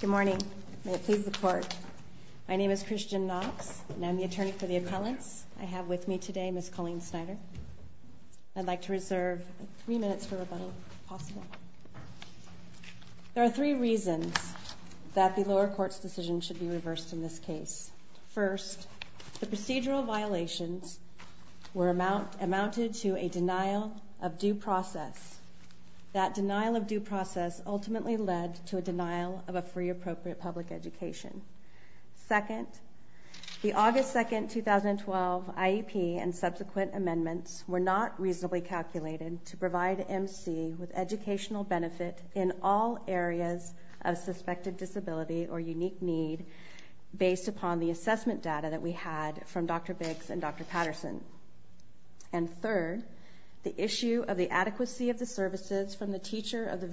Good morning. May it please the Court. My name is Christian Knox and I'm the attorney for the appellants. I have with me today Ms. Colleen Snyder. I'd like to reserve three minutes for rebuttal, if possible. There are three reasons that the lower court's decision should be reversed in this case. First, the procedural violations were amounted to a denial of due process. That denial of a free appropriate public education. Second, the August 2, 2012 IEP and subsequent amendments were not reasonably calculated to provide M.C. with educational benefit in all areas of suspected disability or unique need based upon the assessment data that we had from Dr. Biggs and Dr. Patterson. And third, the issue of the adequacy of the services from the teacher of the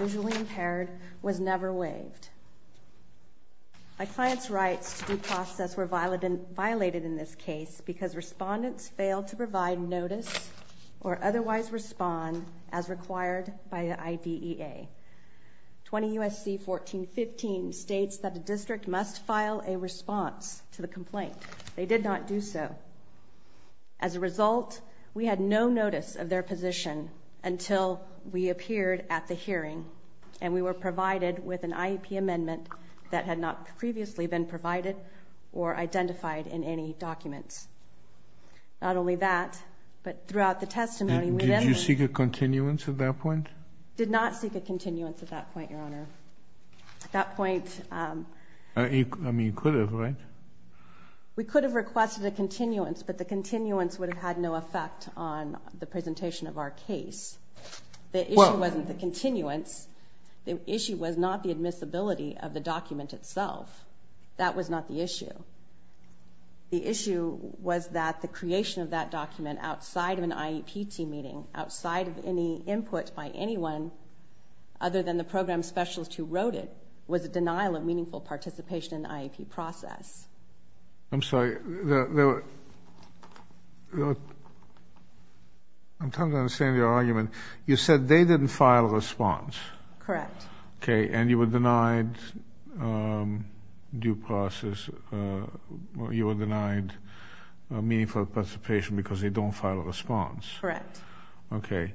My client's rights to due process were violated in this case because respondents failed to provide notice or otherwise respond as required by the IDEA. 20 U.S.C. 1415 states that the district must file a response to the complaint. They did not do so. As a result, we had no notice of their position until we passed an IEP amendment that had not previously been provided or identified in any documents. Not only that, but throughout the testimony, we did. Did you seek a continuance at that point? Did not seek a continuance at that point, Your Honor. At that point. I mean, you could have, right? We could have requested a continuance, but the continuance would have had no effect on the presentation of our case. The issue wasn't the continuance. The issue was not the admissibility of the document itself. That was not the issue. The issue was that the creation of that document outside of an IEP team meeting, outside of any input by anyone other than the program specialist who wrote it, was a denial of meaningful participation in the IEP process. I'm sorry. I'm trying to understand your argument. You said they didn't file a response. Correct. Okay, and you were denied due process. You were denied meaningful participation because they don't file a response. Correct. Okay.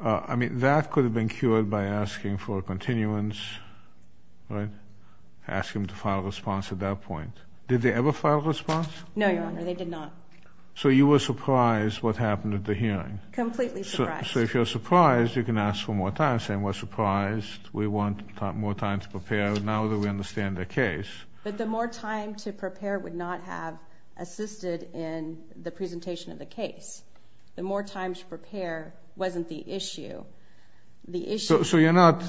I mean, that could have been cured by asking for a continuance, right? Asking them to file a response at that point. Did they ever file a response? No, Your Honor. They did not. So you were surprised what happened at the hearing. Completely surprised. So if you're surprised, you can ask for more time saying we're surprised, we want more time to prepare now that we understand the case. But the more time to prepare would not have assisted in the presentation of the case. The more time to prepare wasn't the issue. So you're not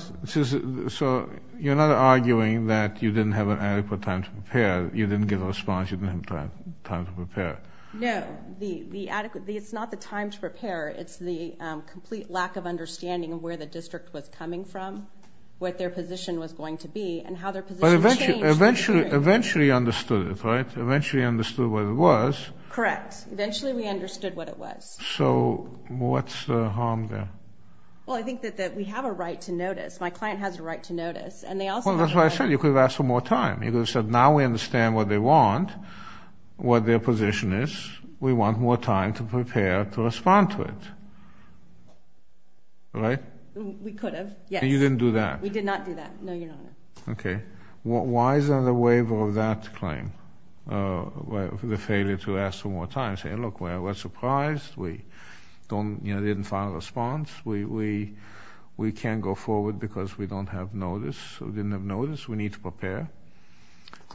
arguing that you didn't have an adequate time to prepare, you didn't give a response, you didn't have time to prepare. No, it's not the time to prepare, it's the complete lack of understanding of where the district was coming from, what their position was going to be, and how their position changed. But eventually understood it, right? Eventually understood what it was. Correct. Eventually we understood what it was. So what's the harm there? Well, I think that we have a right to notice. My client has a right to notice. Well, that's what I said, you could have asked for more time. You could have said now we understand what they want, what their position is, we want more time to prepare to respond to it. Right? We could have, yes. And you didn't do that? We did not do that, no, Your Honor. Okay. Why is there a waiver of that claim? The failure to ask for more time saying, look, we're surprised, we don't, you know, didn't find a response, we can't go forward because we don't have notice, we didn't have notice, we need to prepare.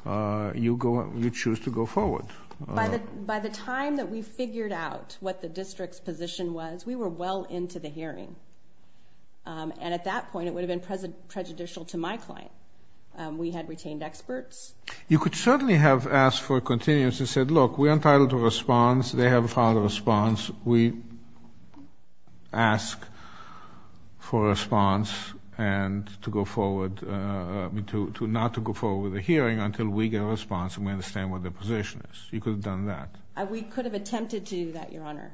You choose to go forward. By the time that we figured out what the district's position was, we were well into the hearing. And at that point, it would have been prejudicial to my client. We had retained experts. You could certainly have asked for a continuance and said, look, we're entitled to a response, they haven't found a response, we ask for a response and to go forward, not to go forward with the hearing until we get a response and we understand what their position is. You could have done that. We could have attempted to do that, Your Honor.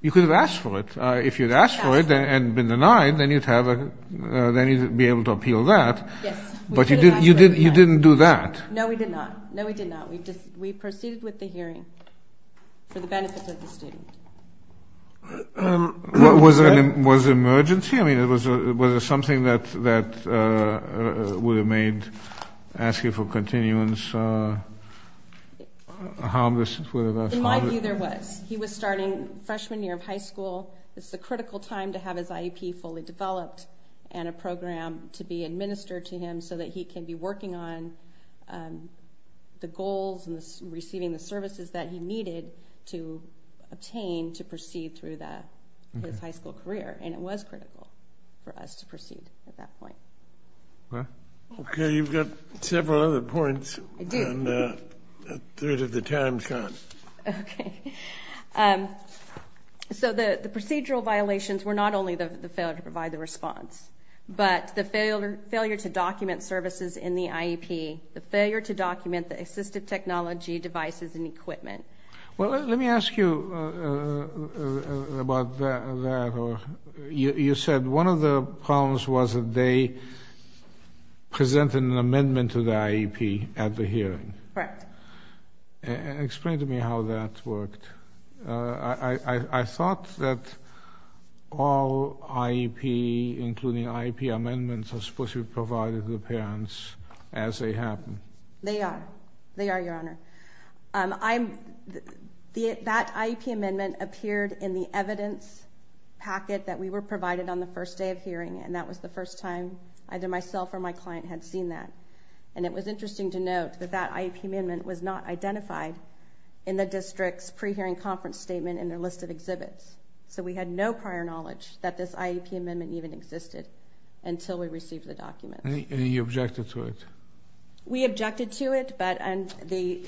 You could have asked for it. If you'd asked for it and been denied, then you'd have, then you'd be able to appeal that. But you didn't do that. No, we did not. No, we did not. We proceeded with the hearing for the benefit of the student. Was it an emergency? I mean, it was a something that would have made asking for continuance harmless? In my view, there was. He was starting freshman year of high school. It's a critical time to have his IEP fully developed and a program to be administered to him so that he can be working on the goals and receiving the services that he needed to obtain to proceed through his high school career, and it was critical for us to proceed at that point. Okay, you've got several other points. I do. And a third of the time can't. Okay. So the procedural violations were not only the failure to provide the response, but the failure to document services in the IEP, the failure to document the assistive technology devices and equipment. Well, let me ask you about that. You said one of the problems was that they presented an amendment to the IEP at the hearing. Correct. Explain to me how that worked. I thought that all IEP, including IEP amendments, are supposed to be provided to the parents as they happen. They are. They are, Your Honor. That IEP amendment appeared in the evidence packet that we were provided on the first day of hearing, and that was the first time either myself or my client had seen that. And it was interesting to note that that IEP amendment was not identified in the district's pre-hearing conference statement in their list of exhibits. So we had no prior knowledge that this IEP amendment even existed until we received the document. And you objected to it? We objected to it, but the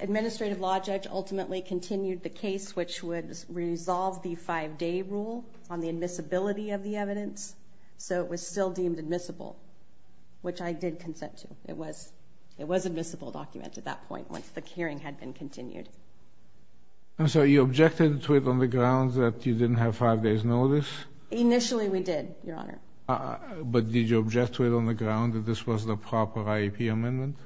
administrative law judge ultimately continued the case which would resolve the five day rule on the admissibility of the evidence. So it was still deemed admissible, which I did consent to. It was admissible document at that point once the hearing had been continued. I'm sorry, you objected to it on the ground that you didn't have five days notice? Initially we did, Your Honor. But did you object to it on the ground that this was the proper IEP amendment?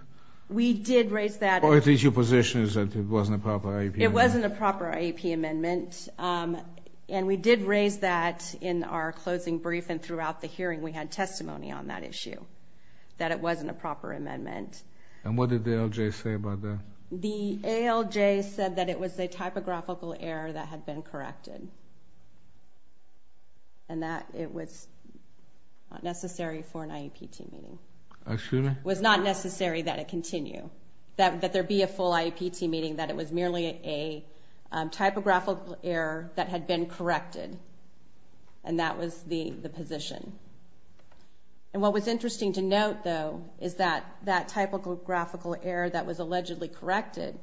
We did raise that. Or at least your position is that it wasn't a proper IEP amendment? It wasn't a proper IEP amendment, and we did raise that in our closing brief and throughout the hearing we had testimony on that issue, that it wasn't a proper amendment. And what did the ALJ say about that? The ALJ said that it was a typographical error that had been corrected, and that it was not necessary for an IEP team meeting. It was not necessary that it continue, that there be a full IEP team meeting, that it was merely a typographical error that had been positioned. And what was interesting to note, though, is that that typographical error that was allegedly corrected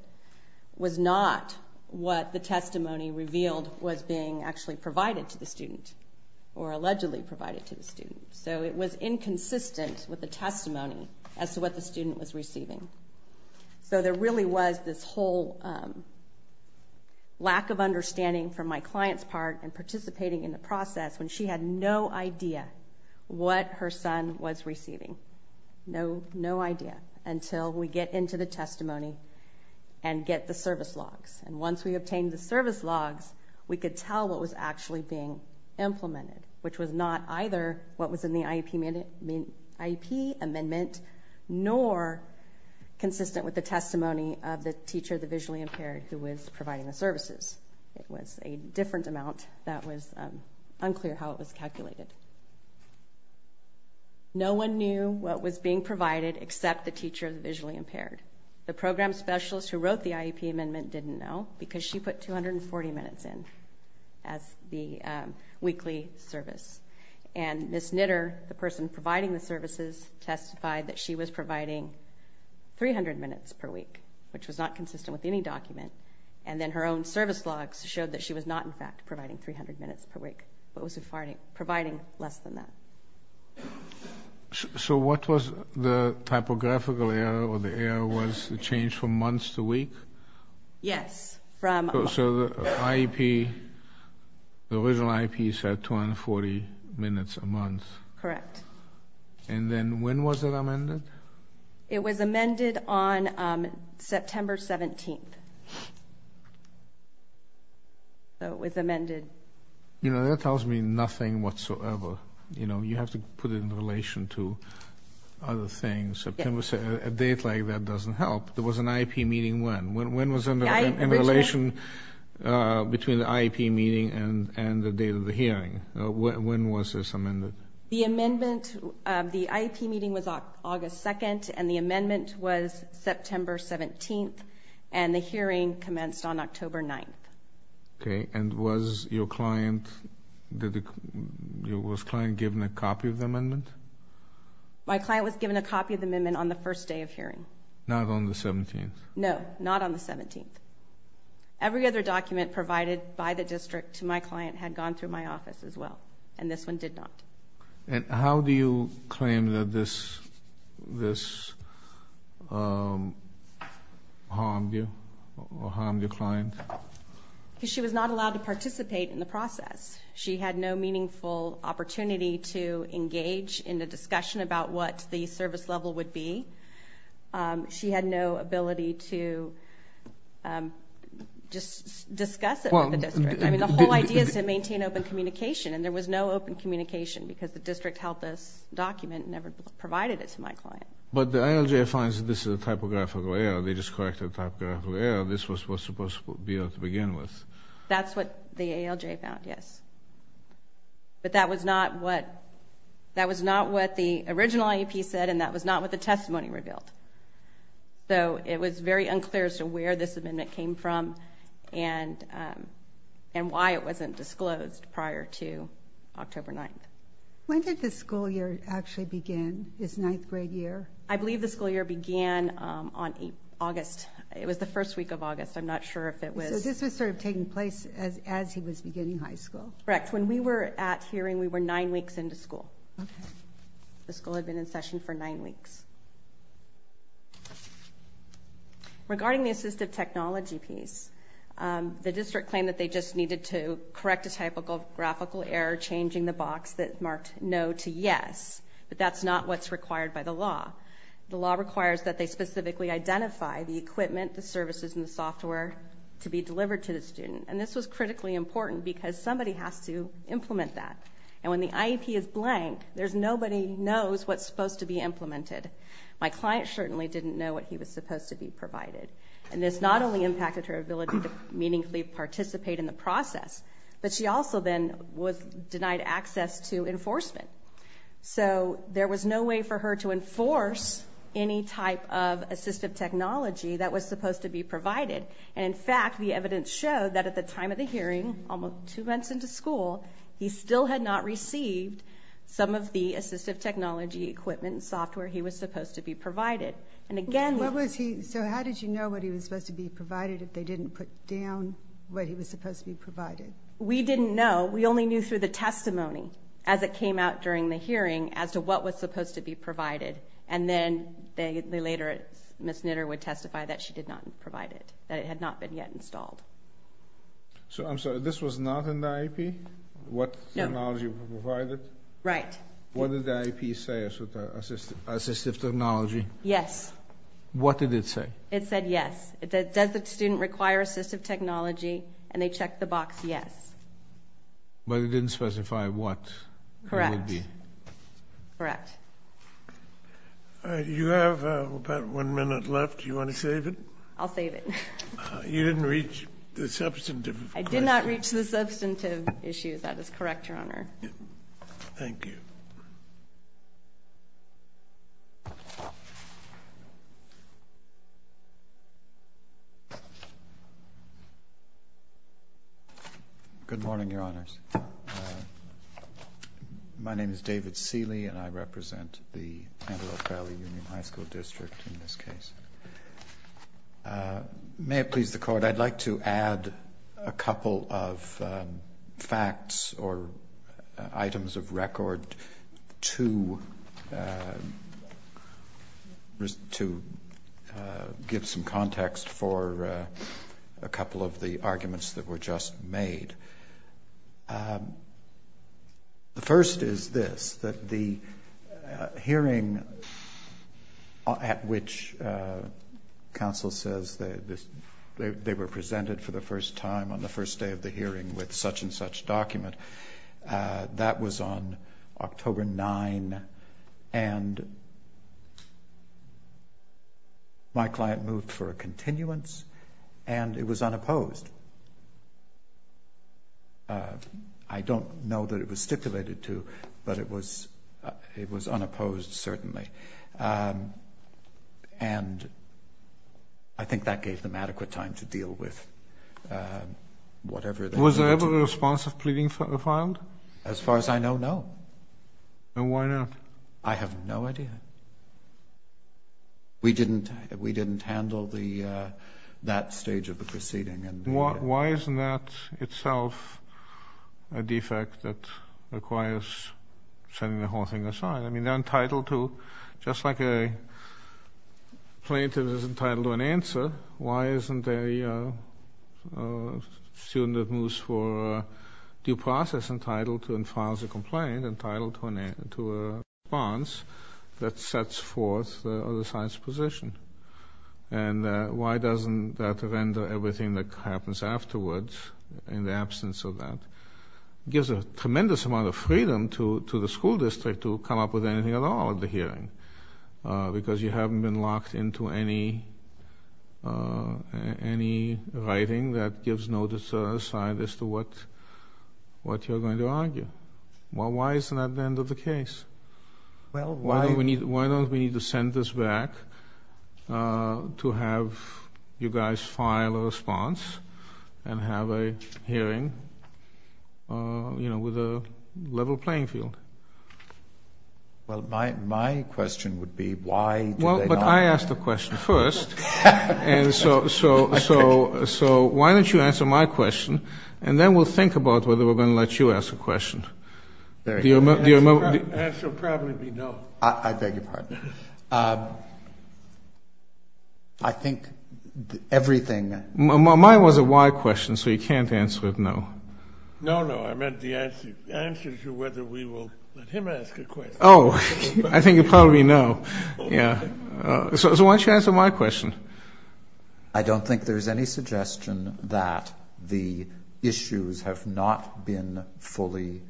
was not what the testimony revealed was being actually provided to the student, or allegedly provided to the student. So it was inconsistent with the testimony as to what the student was receiving. So there really was this whole lack of understanding from my client's part, and participating in the process, when she had no idea what her son was receiving. No idea, until we get into the testimony and get the service logs. And once we obtained the service logs, we could tell what was actually being implemented, which was not either what was in the IEP amendment, nor consistent with the testimony of the teacher, the visually impaired, who was providing the that was unclear how it was calculated. No one knew what was being provided except the teacher of the visually impaired. The program specialist who wrote the IEP amendment didn't know, because she put 240 minutes in as the weekly service. And Ms. Knitter, the person providing the services, testified that she was providing 300 minutes per week, which was not consistent with any document. And then her own service logs showed that she was not in fact providing 300 minutes per week, but was providing less than that. So what was the typographical error, or the error was the change from months to week? Yes. So the IEP, the original IEP said 240 minutes a month. Correct. And then was it amended? It was amended on September 17th. So it was amended. You know, that tells me nothing whatsoever. You know, you have to put it in relation to other things. A date like that doesn't help. There was an IEP meeting when? When was in relation between the IEP meeting and the hearing? When was this amended? The amendment, the IEP meeting was August 2nd, and the amendment was September 17th, and the hearing commenced on October 9th. Okay, and was your client, was your client given a copy of the amendment? My client was given a copy of the amendment on the first day of hearing. Not on the 17th? No, not on the 17th. Every other document provided by the district to my client had gone through my office as well, and this one did not. And how do you claim that this harmed you, harmed your client? Because she was not allowed to participate in the process. She had no meaningful opportunity to engage in the discussion about what the service level would be. She had no ability to just discuss it with the district. I mean, the whole idea is to maintain open communication, and there was no open communication because the district held this document and never provided it to my client. But the ALJ finds this is a typographical error. They just corrected the typographical error. This was supposed to be able to begin with. That's what the ALJ found, yes. But that was not what, that was not what the original IEP said, and that was not what the testimony revealed. So it was very unclear as to where this amendment came from and why it wasn't disclosed prior to October 9th. When did the school year actually begin, this ninth grade year? I believe the school year began on August. It was the first week of August. I'm not sure if it was... So this was sort of taking place as he was beginning high school? Correct. When we were at hearing, we were nine weeks into school. Okay. The school had been in session for nine weeks. Regarding the assistive technology piece, the district claimed that they just needed to correct a typographical error changing the box that marked no to yes, but that's not what's required by the law. The law requires that they specifically identify the equipment, the services, and the software to be delivered to the student, and this was critically important because somebody has to implement that. And when the IEP is blank, there's nobody knows what's supposed to be implemented. My client certainly didn't know what he was supposed to be provided. And this not only impacted her ability to meaningfully participate in the process, but she also then was denied access to enforcement. So there was no way for her to enforce any type of assistive technology that was supposed to be provided. And in fact, the evidence showed that at the time of the hearing, almost two months into school, he still had not received some of the assistive technology equipment and software he was supposed to be provided. And again, what was he, so how did you know what he was supposed to be provided if they didn't put down what he was supposed to be provided? We didn't know. We only knew through the testimony as it came out during the hearing as to what was supposed to be provided. And then they later, Ms. Knitter would testify that she did not provide it, that it had not been yet installed. So I'm sorry, this was not in the IEP? What technology was provided? Right. What did the IEP say about assistive technology? Yes. What did it say? It said yes. Does the student require assistive technology? And they checked the box yes. But it didn't specify what it would be? Correct. Correct. You have about one minute left. Do you want to save it? I'll save it. You didn't reach the substantive question. I did not reach the substantive issue. That is correct, Your Honor. Thank you. Good morning, Your Honors. My name is David Seeley and I represent the Antelope Valley Union High School District in this case. May it please the Court, I'd like to add a couple of facts or items of record to give some context for a couple of the arguments that were just made. The first is this, that the hearing at which counsel says they were presented for the first time on the first day of the hearing with such-and-such document, that was on October 9th, and my client moved for a continuance and it was unopposed. I don't know that it was stipulated to, but it was unopposed, certainly. And I think that gave them adequate time to deal with whatever they wanted. Was there ever a response of pleading filed? As far as I know, no. Then why not? I have no idea. We didn't handle that stage of the proceeding. Why isn't that itself a defect that requires setting the whole thing aside? I mean, they're entitled to, just like a plaintiff is entitled to an answer, why isn't a student that moves for due process entitled to and files a complaint entitled to a response that sets forth the other side's position? And why doesn't that render everything that happens afterwards in the absence of that? It gives a tremendous amount of freedom to the school district to come up with anything at all at the hearing, because you haven't been locked into any writing that gives no aside as to what you're going to argue. Well, why isn't that the end of the case? Why don't we need to send this back to have you guys file a response and have a hearing, you know, with a level playing field? Well, my question would be, why do they not? Well, but I asked the question first, and so why don't you answer my question, and then we'll think about whether we're going to let you ask a question. Answer will probably be no. I beg your pardon. I think everything... Mine was a why question, so you can't answer it no. No, no, I meant the answer to whether we will let him ask a question. Oh, I think you probably know. Yeah. So why don't you answer my question? I don't think there's any suggestion that the issues have not been fully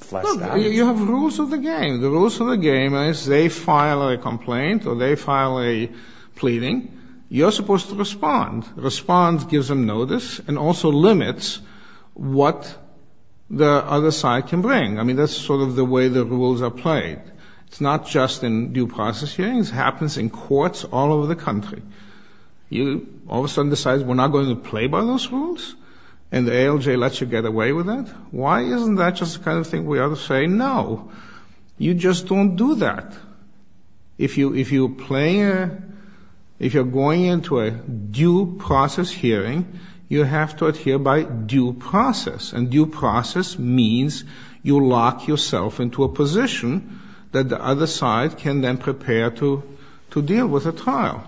fleshed out. You have rules of the game. The rules of the game is they file a complaint or they file a pleading. You're supposed to respond. Respond gives them notice and also limits what the other side can bring. I mean, that's sort of the way the rules are played. It's not just in due process hearings. It happens in courts all over the country. You all of a sudden decide we're not going to play by those rules, and the ALJ lets you get away with it. Why isn't that just the kind of thing we are saying? No, you just don't do that. If you're going into a due process hearing, you have to adhere by due process, and due process means you lock yourself into a position that the other side can then prepare to deal with a trial,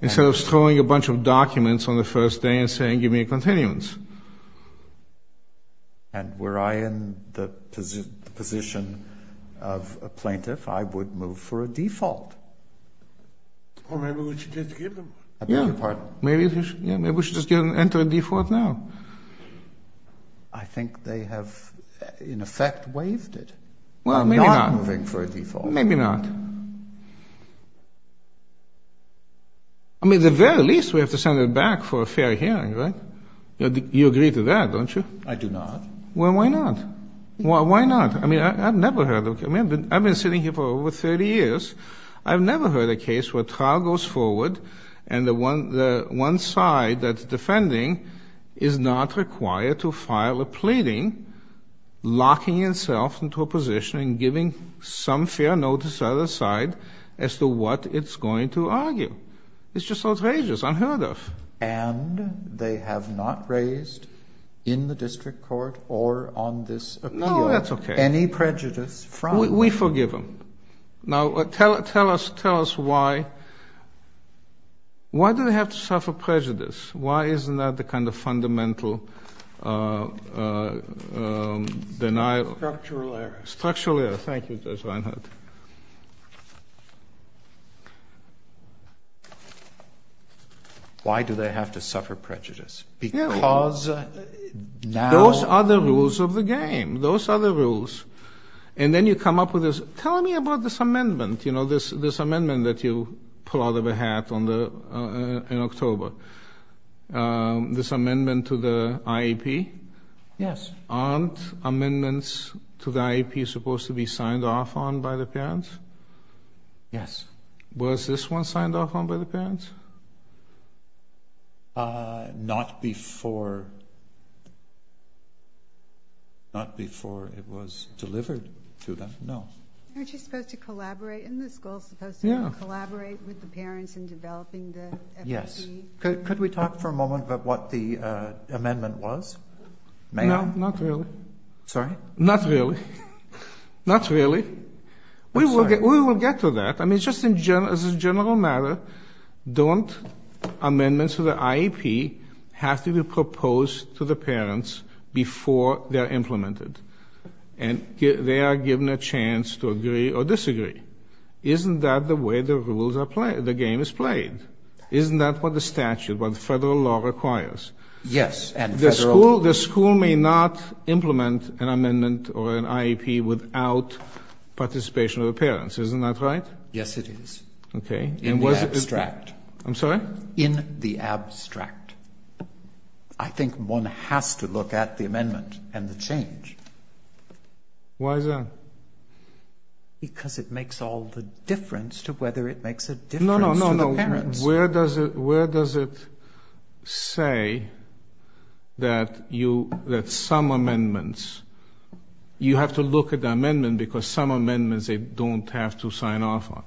instead of throwing a bunch of documents on the first day and saying, give me a continuance. And were I in the position of a plaintiff, I would move for a default. Or maybe we should just give them a default. Yeah, maybe we should just enter a default now. I think they have, in effect, waived it. I'm not moving for a default. Well, maybe not. I mean, at the very least, we have to send it back for a fair hearing, right? You agree to that, don't you? I do not. Well, why not? Why not? I mean, I've never heard of it. I mean, I've been sitting here for over 30 years. I've never heard a case where a trial goes forward, and the one side that's defending is not required to file a pleading, locking itself into a position and giving some fair notice to the other side as to what it's going to argue. It's just outrageous, unheard of. And they have not raised in the district court or on this appeal any prejudice from— We forgive them. Now, tell us why. Why do they have to suffer prejudice? Why isn't that the kind of fundamental denial— Structural error. Structural error. Thank you, Judge Reinhart. Why do they have to suffer prejudice? Because now— Those are the rules of the game. Those are the rules. And then you come up with this, tell me about this amendment, you know, this amendment that you pull out of a hat in October, this amendment to the IEP? Yes. Aren't amendments to the IEP supposed to be signed off on by the parents? Yes. Was this one signed off on by the parents? Not before it was delivered to them, no. Aren't you supposed to collaborate in the school, supposed to collaborate with the parents in developing the— Yes. Could we talk for a moment about what the amendment was? May I? No, not really. Sorry? Not really. Not really. We will get to that. I mean, just in general, as a general matter, don't amendments to the IEP have to be proposed to the parents before they are implemented? And they are given a chance to agree or disagree. Isn't that the way the rules are played, the game is played? Isn't that what the statute, what the federal law requires? Yes, and federal— The school may not implement an amendment or an IEP without participation of the parents. Isn't that right? Yes, it is. Okay. In the abstract. I'm sorry? In the abstract. I think one has to look at the amendment and the change. Why is that? Because it makes all the difference to whether it makes a difference to the parents. Where does it say that some amendments—you have to look at the amendment because some amendments they don't have to sign off on.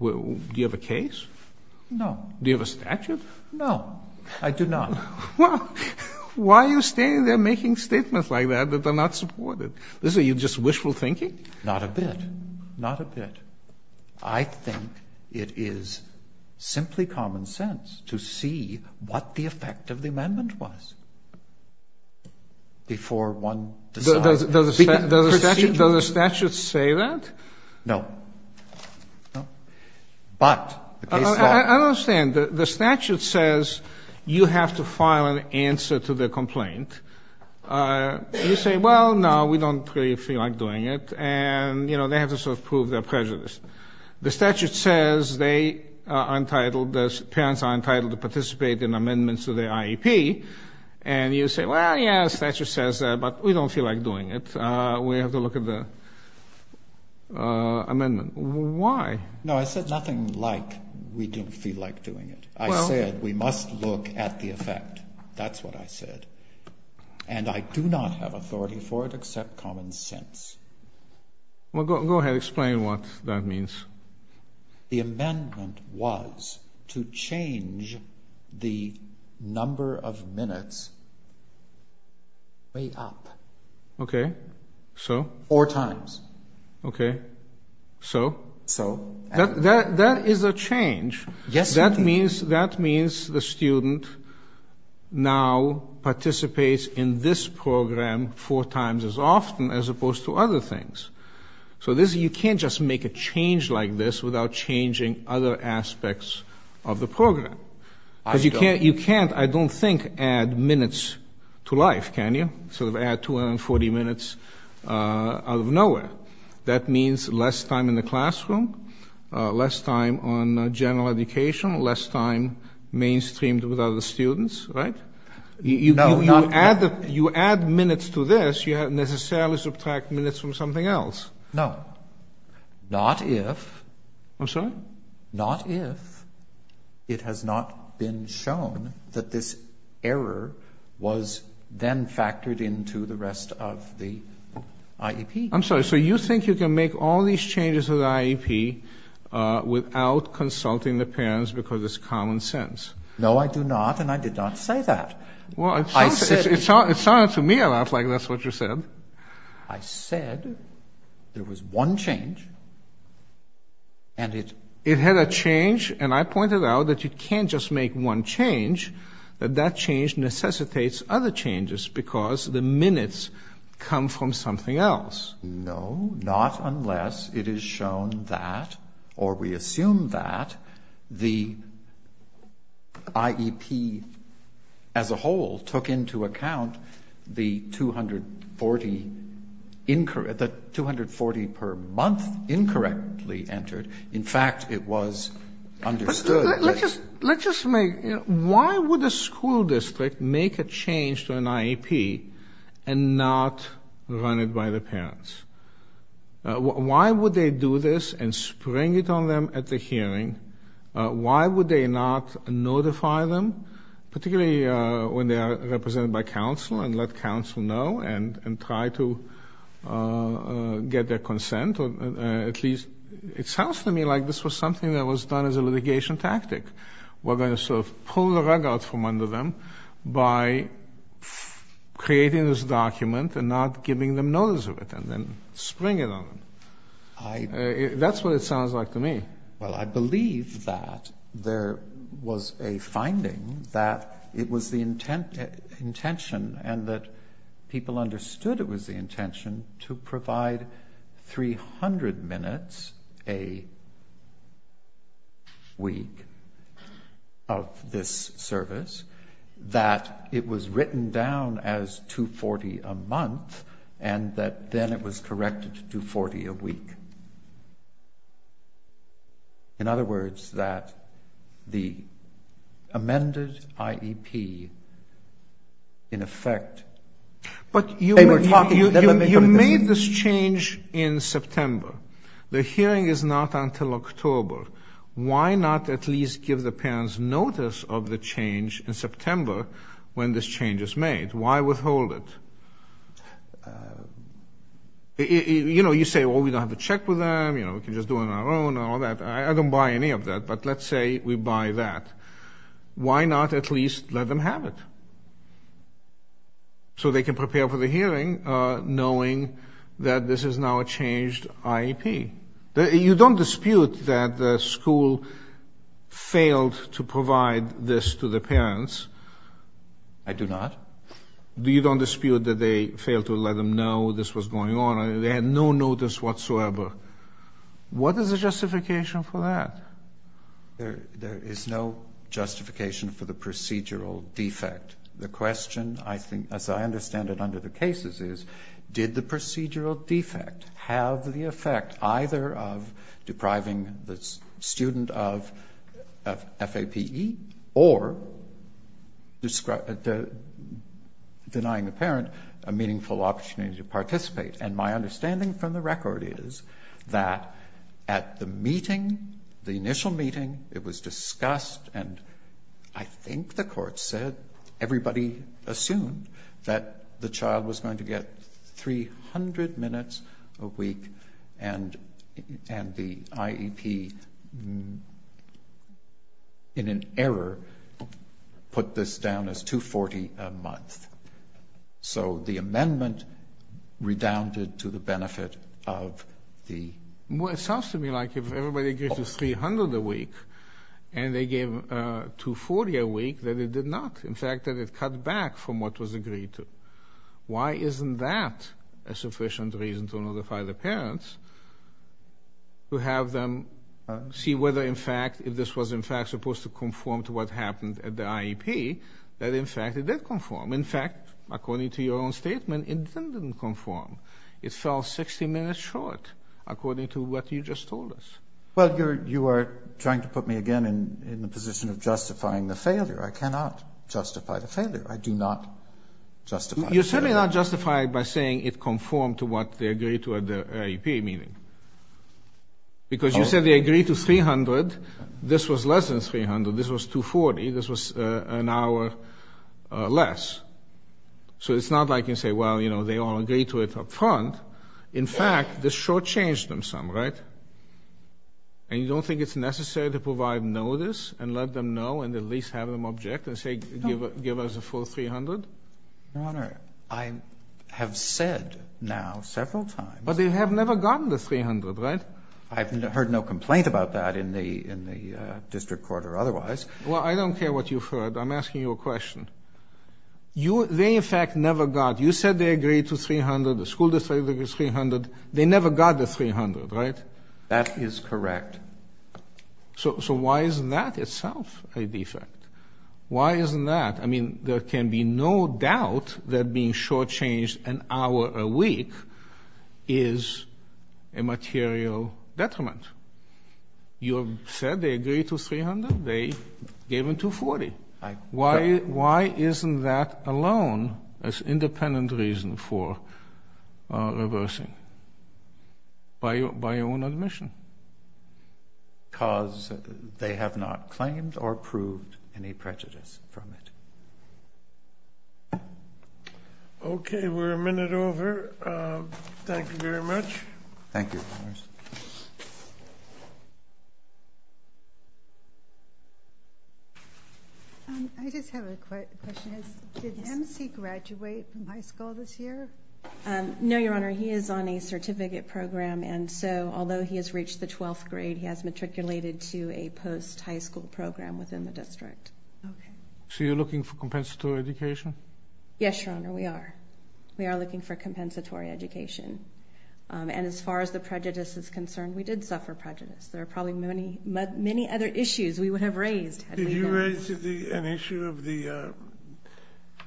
Do you have a case? No. Do you have a statute? No, I do not. Why are you standing there making statements like that that are not supported? This is just wishful thinking? Not a bit. Not a bit. I think it is simply common sense to see what the effect of the amendment was before one decides. Does the statute say that? No. No. But the case law— I don't understand. The statute says you have to file an answer to the complaint. And you say, well, no, we don't really feel like doing it. And, you know, they have to sort of prove their prejudice. The statute says they are entitled—the parents are entitled to participate in amendments to their IEP. And you say, well, yes, the statute says that, but we don't feel like doing it. We have to look at the amendment. Why? No, I said nothing like we don't feel like doing it. I said we must look at the effect. That's what I said. And I do not have authority for it except common sense. Well, go ahead. Explain what that means. The amendment was to change the number of minutes way up. Okay. So? Four times. Okay. So? So. That is a change. Yes, it is. That means the student now participates in this program four times as often as opposed to other things. So you can't just make a change like this without changing other aspects of the program. Because you can't, I don't think, add minutes to life, can you? Sort of add 240 minutes out of nowhere. That means less time in the classroom, less time on general education, less time mainstreamed with other students, right? No, not if. You add minutes to this, you necessarily subtract minutes from something else. No. Not if. I'm sorry? Not if it has not been shown that this error was then factored into the rest of the IEP. I'm sorry. So you think you can make all these changes to the IEP without consulting the parents because it's common sense? No, I do not, and I did not say that. Well, it sounded to me a lot like that's what you said. I said there was one change, and it... It had a change, and I pointed out that you can't just make one change, that that change necessitates other changes because the minutes come from something else. No, not unless it is shown that, or we assume that, the IEP as a whole took into account the 240 per month incorrectly entered. In fact, it was understood that... Let's just make... Why would a school district make a change to an IEP and not run it by the parents? Why would they do this and spring it on them at the hearing? Why would they not notify them, particularly when they are represented by counsel and let counsel know and try to get their consent, or at least... It sounds to me like this was something that was done as a litigation tactic. We're going to sort of pull the rug out from the hay and spring it on them. That's what it sounds like to me. Well, I believe that there was a finding that it was the intention and that people understood it was the intention to provide 300 minutes a week of this service, that it was corrected to 240 a week. In other words, that the amended IEP, in effect... But you made this change in September. The hearing is not until October. Why not at least give the parents notice of the change in September when this change is made? Why withhold it? You say, well, we don't have to check with them. We can just do it on our own and all that. I don't buy any of that, but let's say we buy that. Why not at least let them have it so they can prepare for the hearing knowing that this is now a changed IEP? You don't dispute that the school failed to provide this to the parents? I do not. You don't dispute that they failed to let them know this was going on. They had no notice whatsoever. What is the justification for that? There is no justification for the procedural defect. The question, as I understand it under the cases, is did the procedural defect have the effect either of depriving the student of FAPE or denying the parent a meaningful opportunity to participate? My understanding from the record is that at the meeting, the initial meeting, it was discussed and I think the court said everybody assumed that the child was going get 300 minutes a week and the IEP, in an error, put this down as 240 a month. So the amendment redounded to the benefit of the... It sounds to me like if everybody gets 300 a week and they gave 240 a week, that it did not. In fact, that it cut back from what was agreed to. Why isn't that a sufficient reason to notify the parents to have them see whether in fact, if this was in fact supposed to conform to what happened at the IEP, that in fact it did conform. In fact, according to your own statement, it didn't conform. It fell 60 minutes short according to what you just told us. Well, you are trying to put me again in the position of justifying the failure. I cannot justify the failure. I do not justify the failure. You're certainly not justified by saying it conformed to what they agreed to at the IEP meeting. Because you said they agreed to 300. This was less than 300. This was 240. This was an hour less. So it's not like you say, well, you know, they all agreed to it up front. In fact, this short changed them some, right? And you don't think it's necessary to provide notice and let them know and at least have them object and say, give us a full 300? Your Honor, I have said now several times. But they have never gotten the 300, right? I've heard no complaint about that in the district court or otherwise. Well, I don't care what you've heard. I'm asking you a question. They in fact never got, you said they agreed to 300. The school district agreed to 300. They never got the 300, right? That is correct. So why is that itself a defect? Why isn't that? I mean, there can be no doubt that being short changed an hour a week is a material detriment. You said they agreed to 300. They gave them 240. Why isn't that alone as independent reason for reversing by your own admission? Because they have not claimed or proved any prejudice from it. Okay. We're a minute over. Thank you very much. Thank you. I just have a question. Did MC graduate from high school this year? No, Your Honor. He is on a certificate program. And so although he has reached the 12th grade, he has matriculated to a post high school program within the district. So you're looking for compensatory education? Yes, Your Honor. We are. We are looking for compensatory education. And as far as the prejudice is concerned, we did suffer prejudice. There are probably many other issues we would have raised. Did you raise an issue of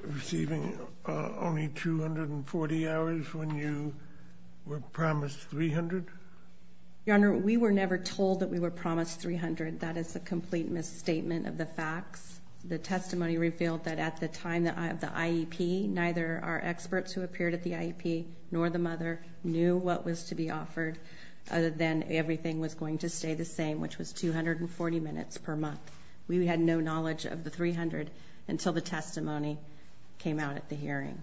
receiving only 240 hours when you were promised 300? Your Honor, we were never told that we were promised 300. That is a complete misstatement of the facts. The testimony revealed that at the time of the IEP, neither our experts who appeared at the IEP nor the mother knew what was to be offered other than everything was going to stay the same, which was 240 minutes per month. We had no knowledge of the 300 until the testimony came out at the hearing.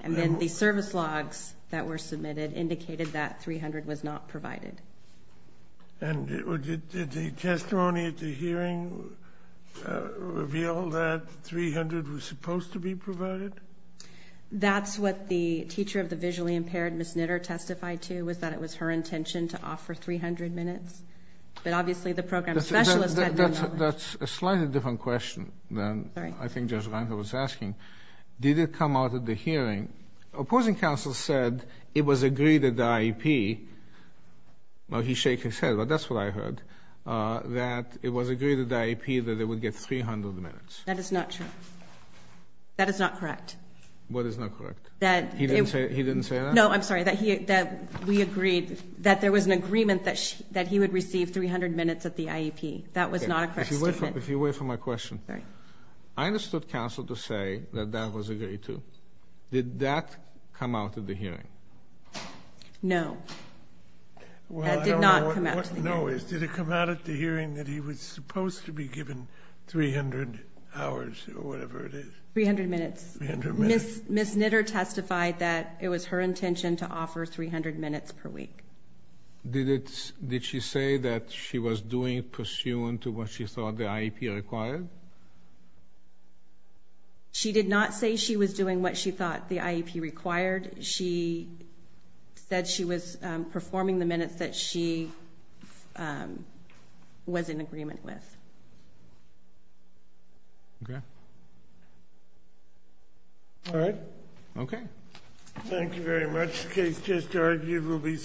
And then the service logs that were submitted indicated that 300 was not provided. And did the testimony at the hearing reveal that 300 was supposed to be provided? That's what the teacher of the visually impaired, Ms. Knitter, testified to, was that it was her intention to offer 300 minutes. But obviously the program specialist had no knowledge. That's a slightly different question than I think Judge Reinhart was asking. Did it come out at the hearing? Opposing counsel said it was agreed at the IEP. Now he's shaking his head, but that's what I heard. That it was agreed at the IEP that they would get 300 minutes. That is not true. That is not correct. What is not correct? That... He didn't say that? No, I'm sorry. That we agreed that there was an agreement that he would receive 300 minutes at the IEP. That was not a correct statement. If you wait for my question. Sorry. I understood counsel to say that that was Did that come out at the hearing? No. That did not come out at the hearing. No. Did it come out at the hearing that he was supposed to be given 300 hours or whatever it is? 300 minutes. Ms. Knitter testified that it was her intention to offer 300 minutes per week. Did it... Did she say that she was doing pursuant to what she thought the IEP required? She did not say she was doing what she thought the IEP required. She said she was performing the minutes that she was in agreement with. Okay. All right. Okay. Thank you very much. The case just argued. We'll be supporting it.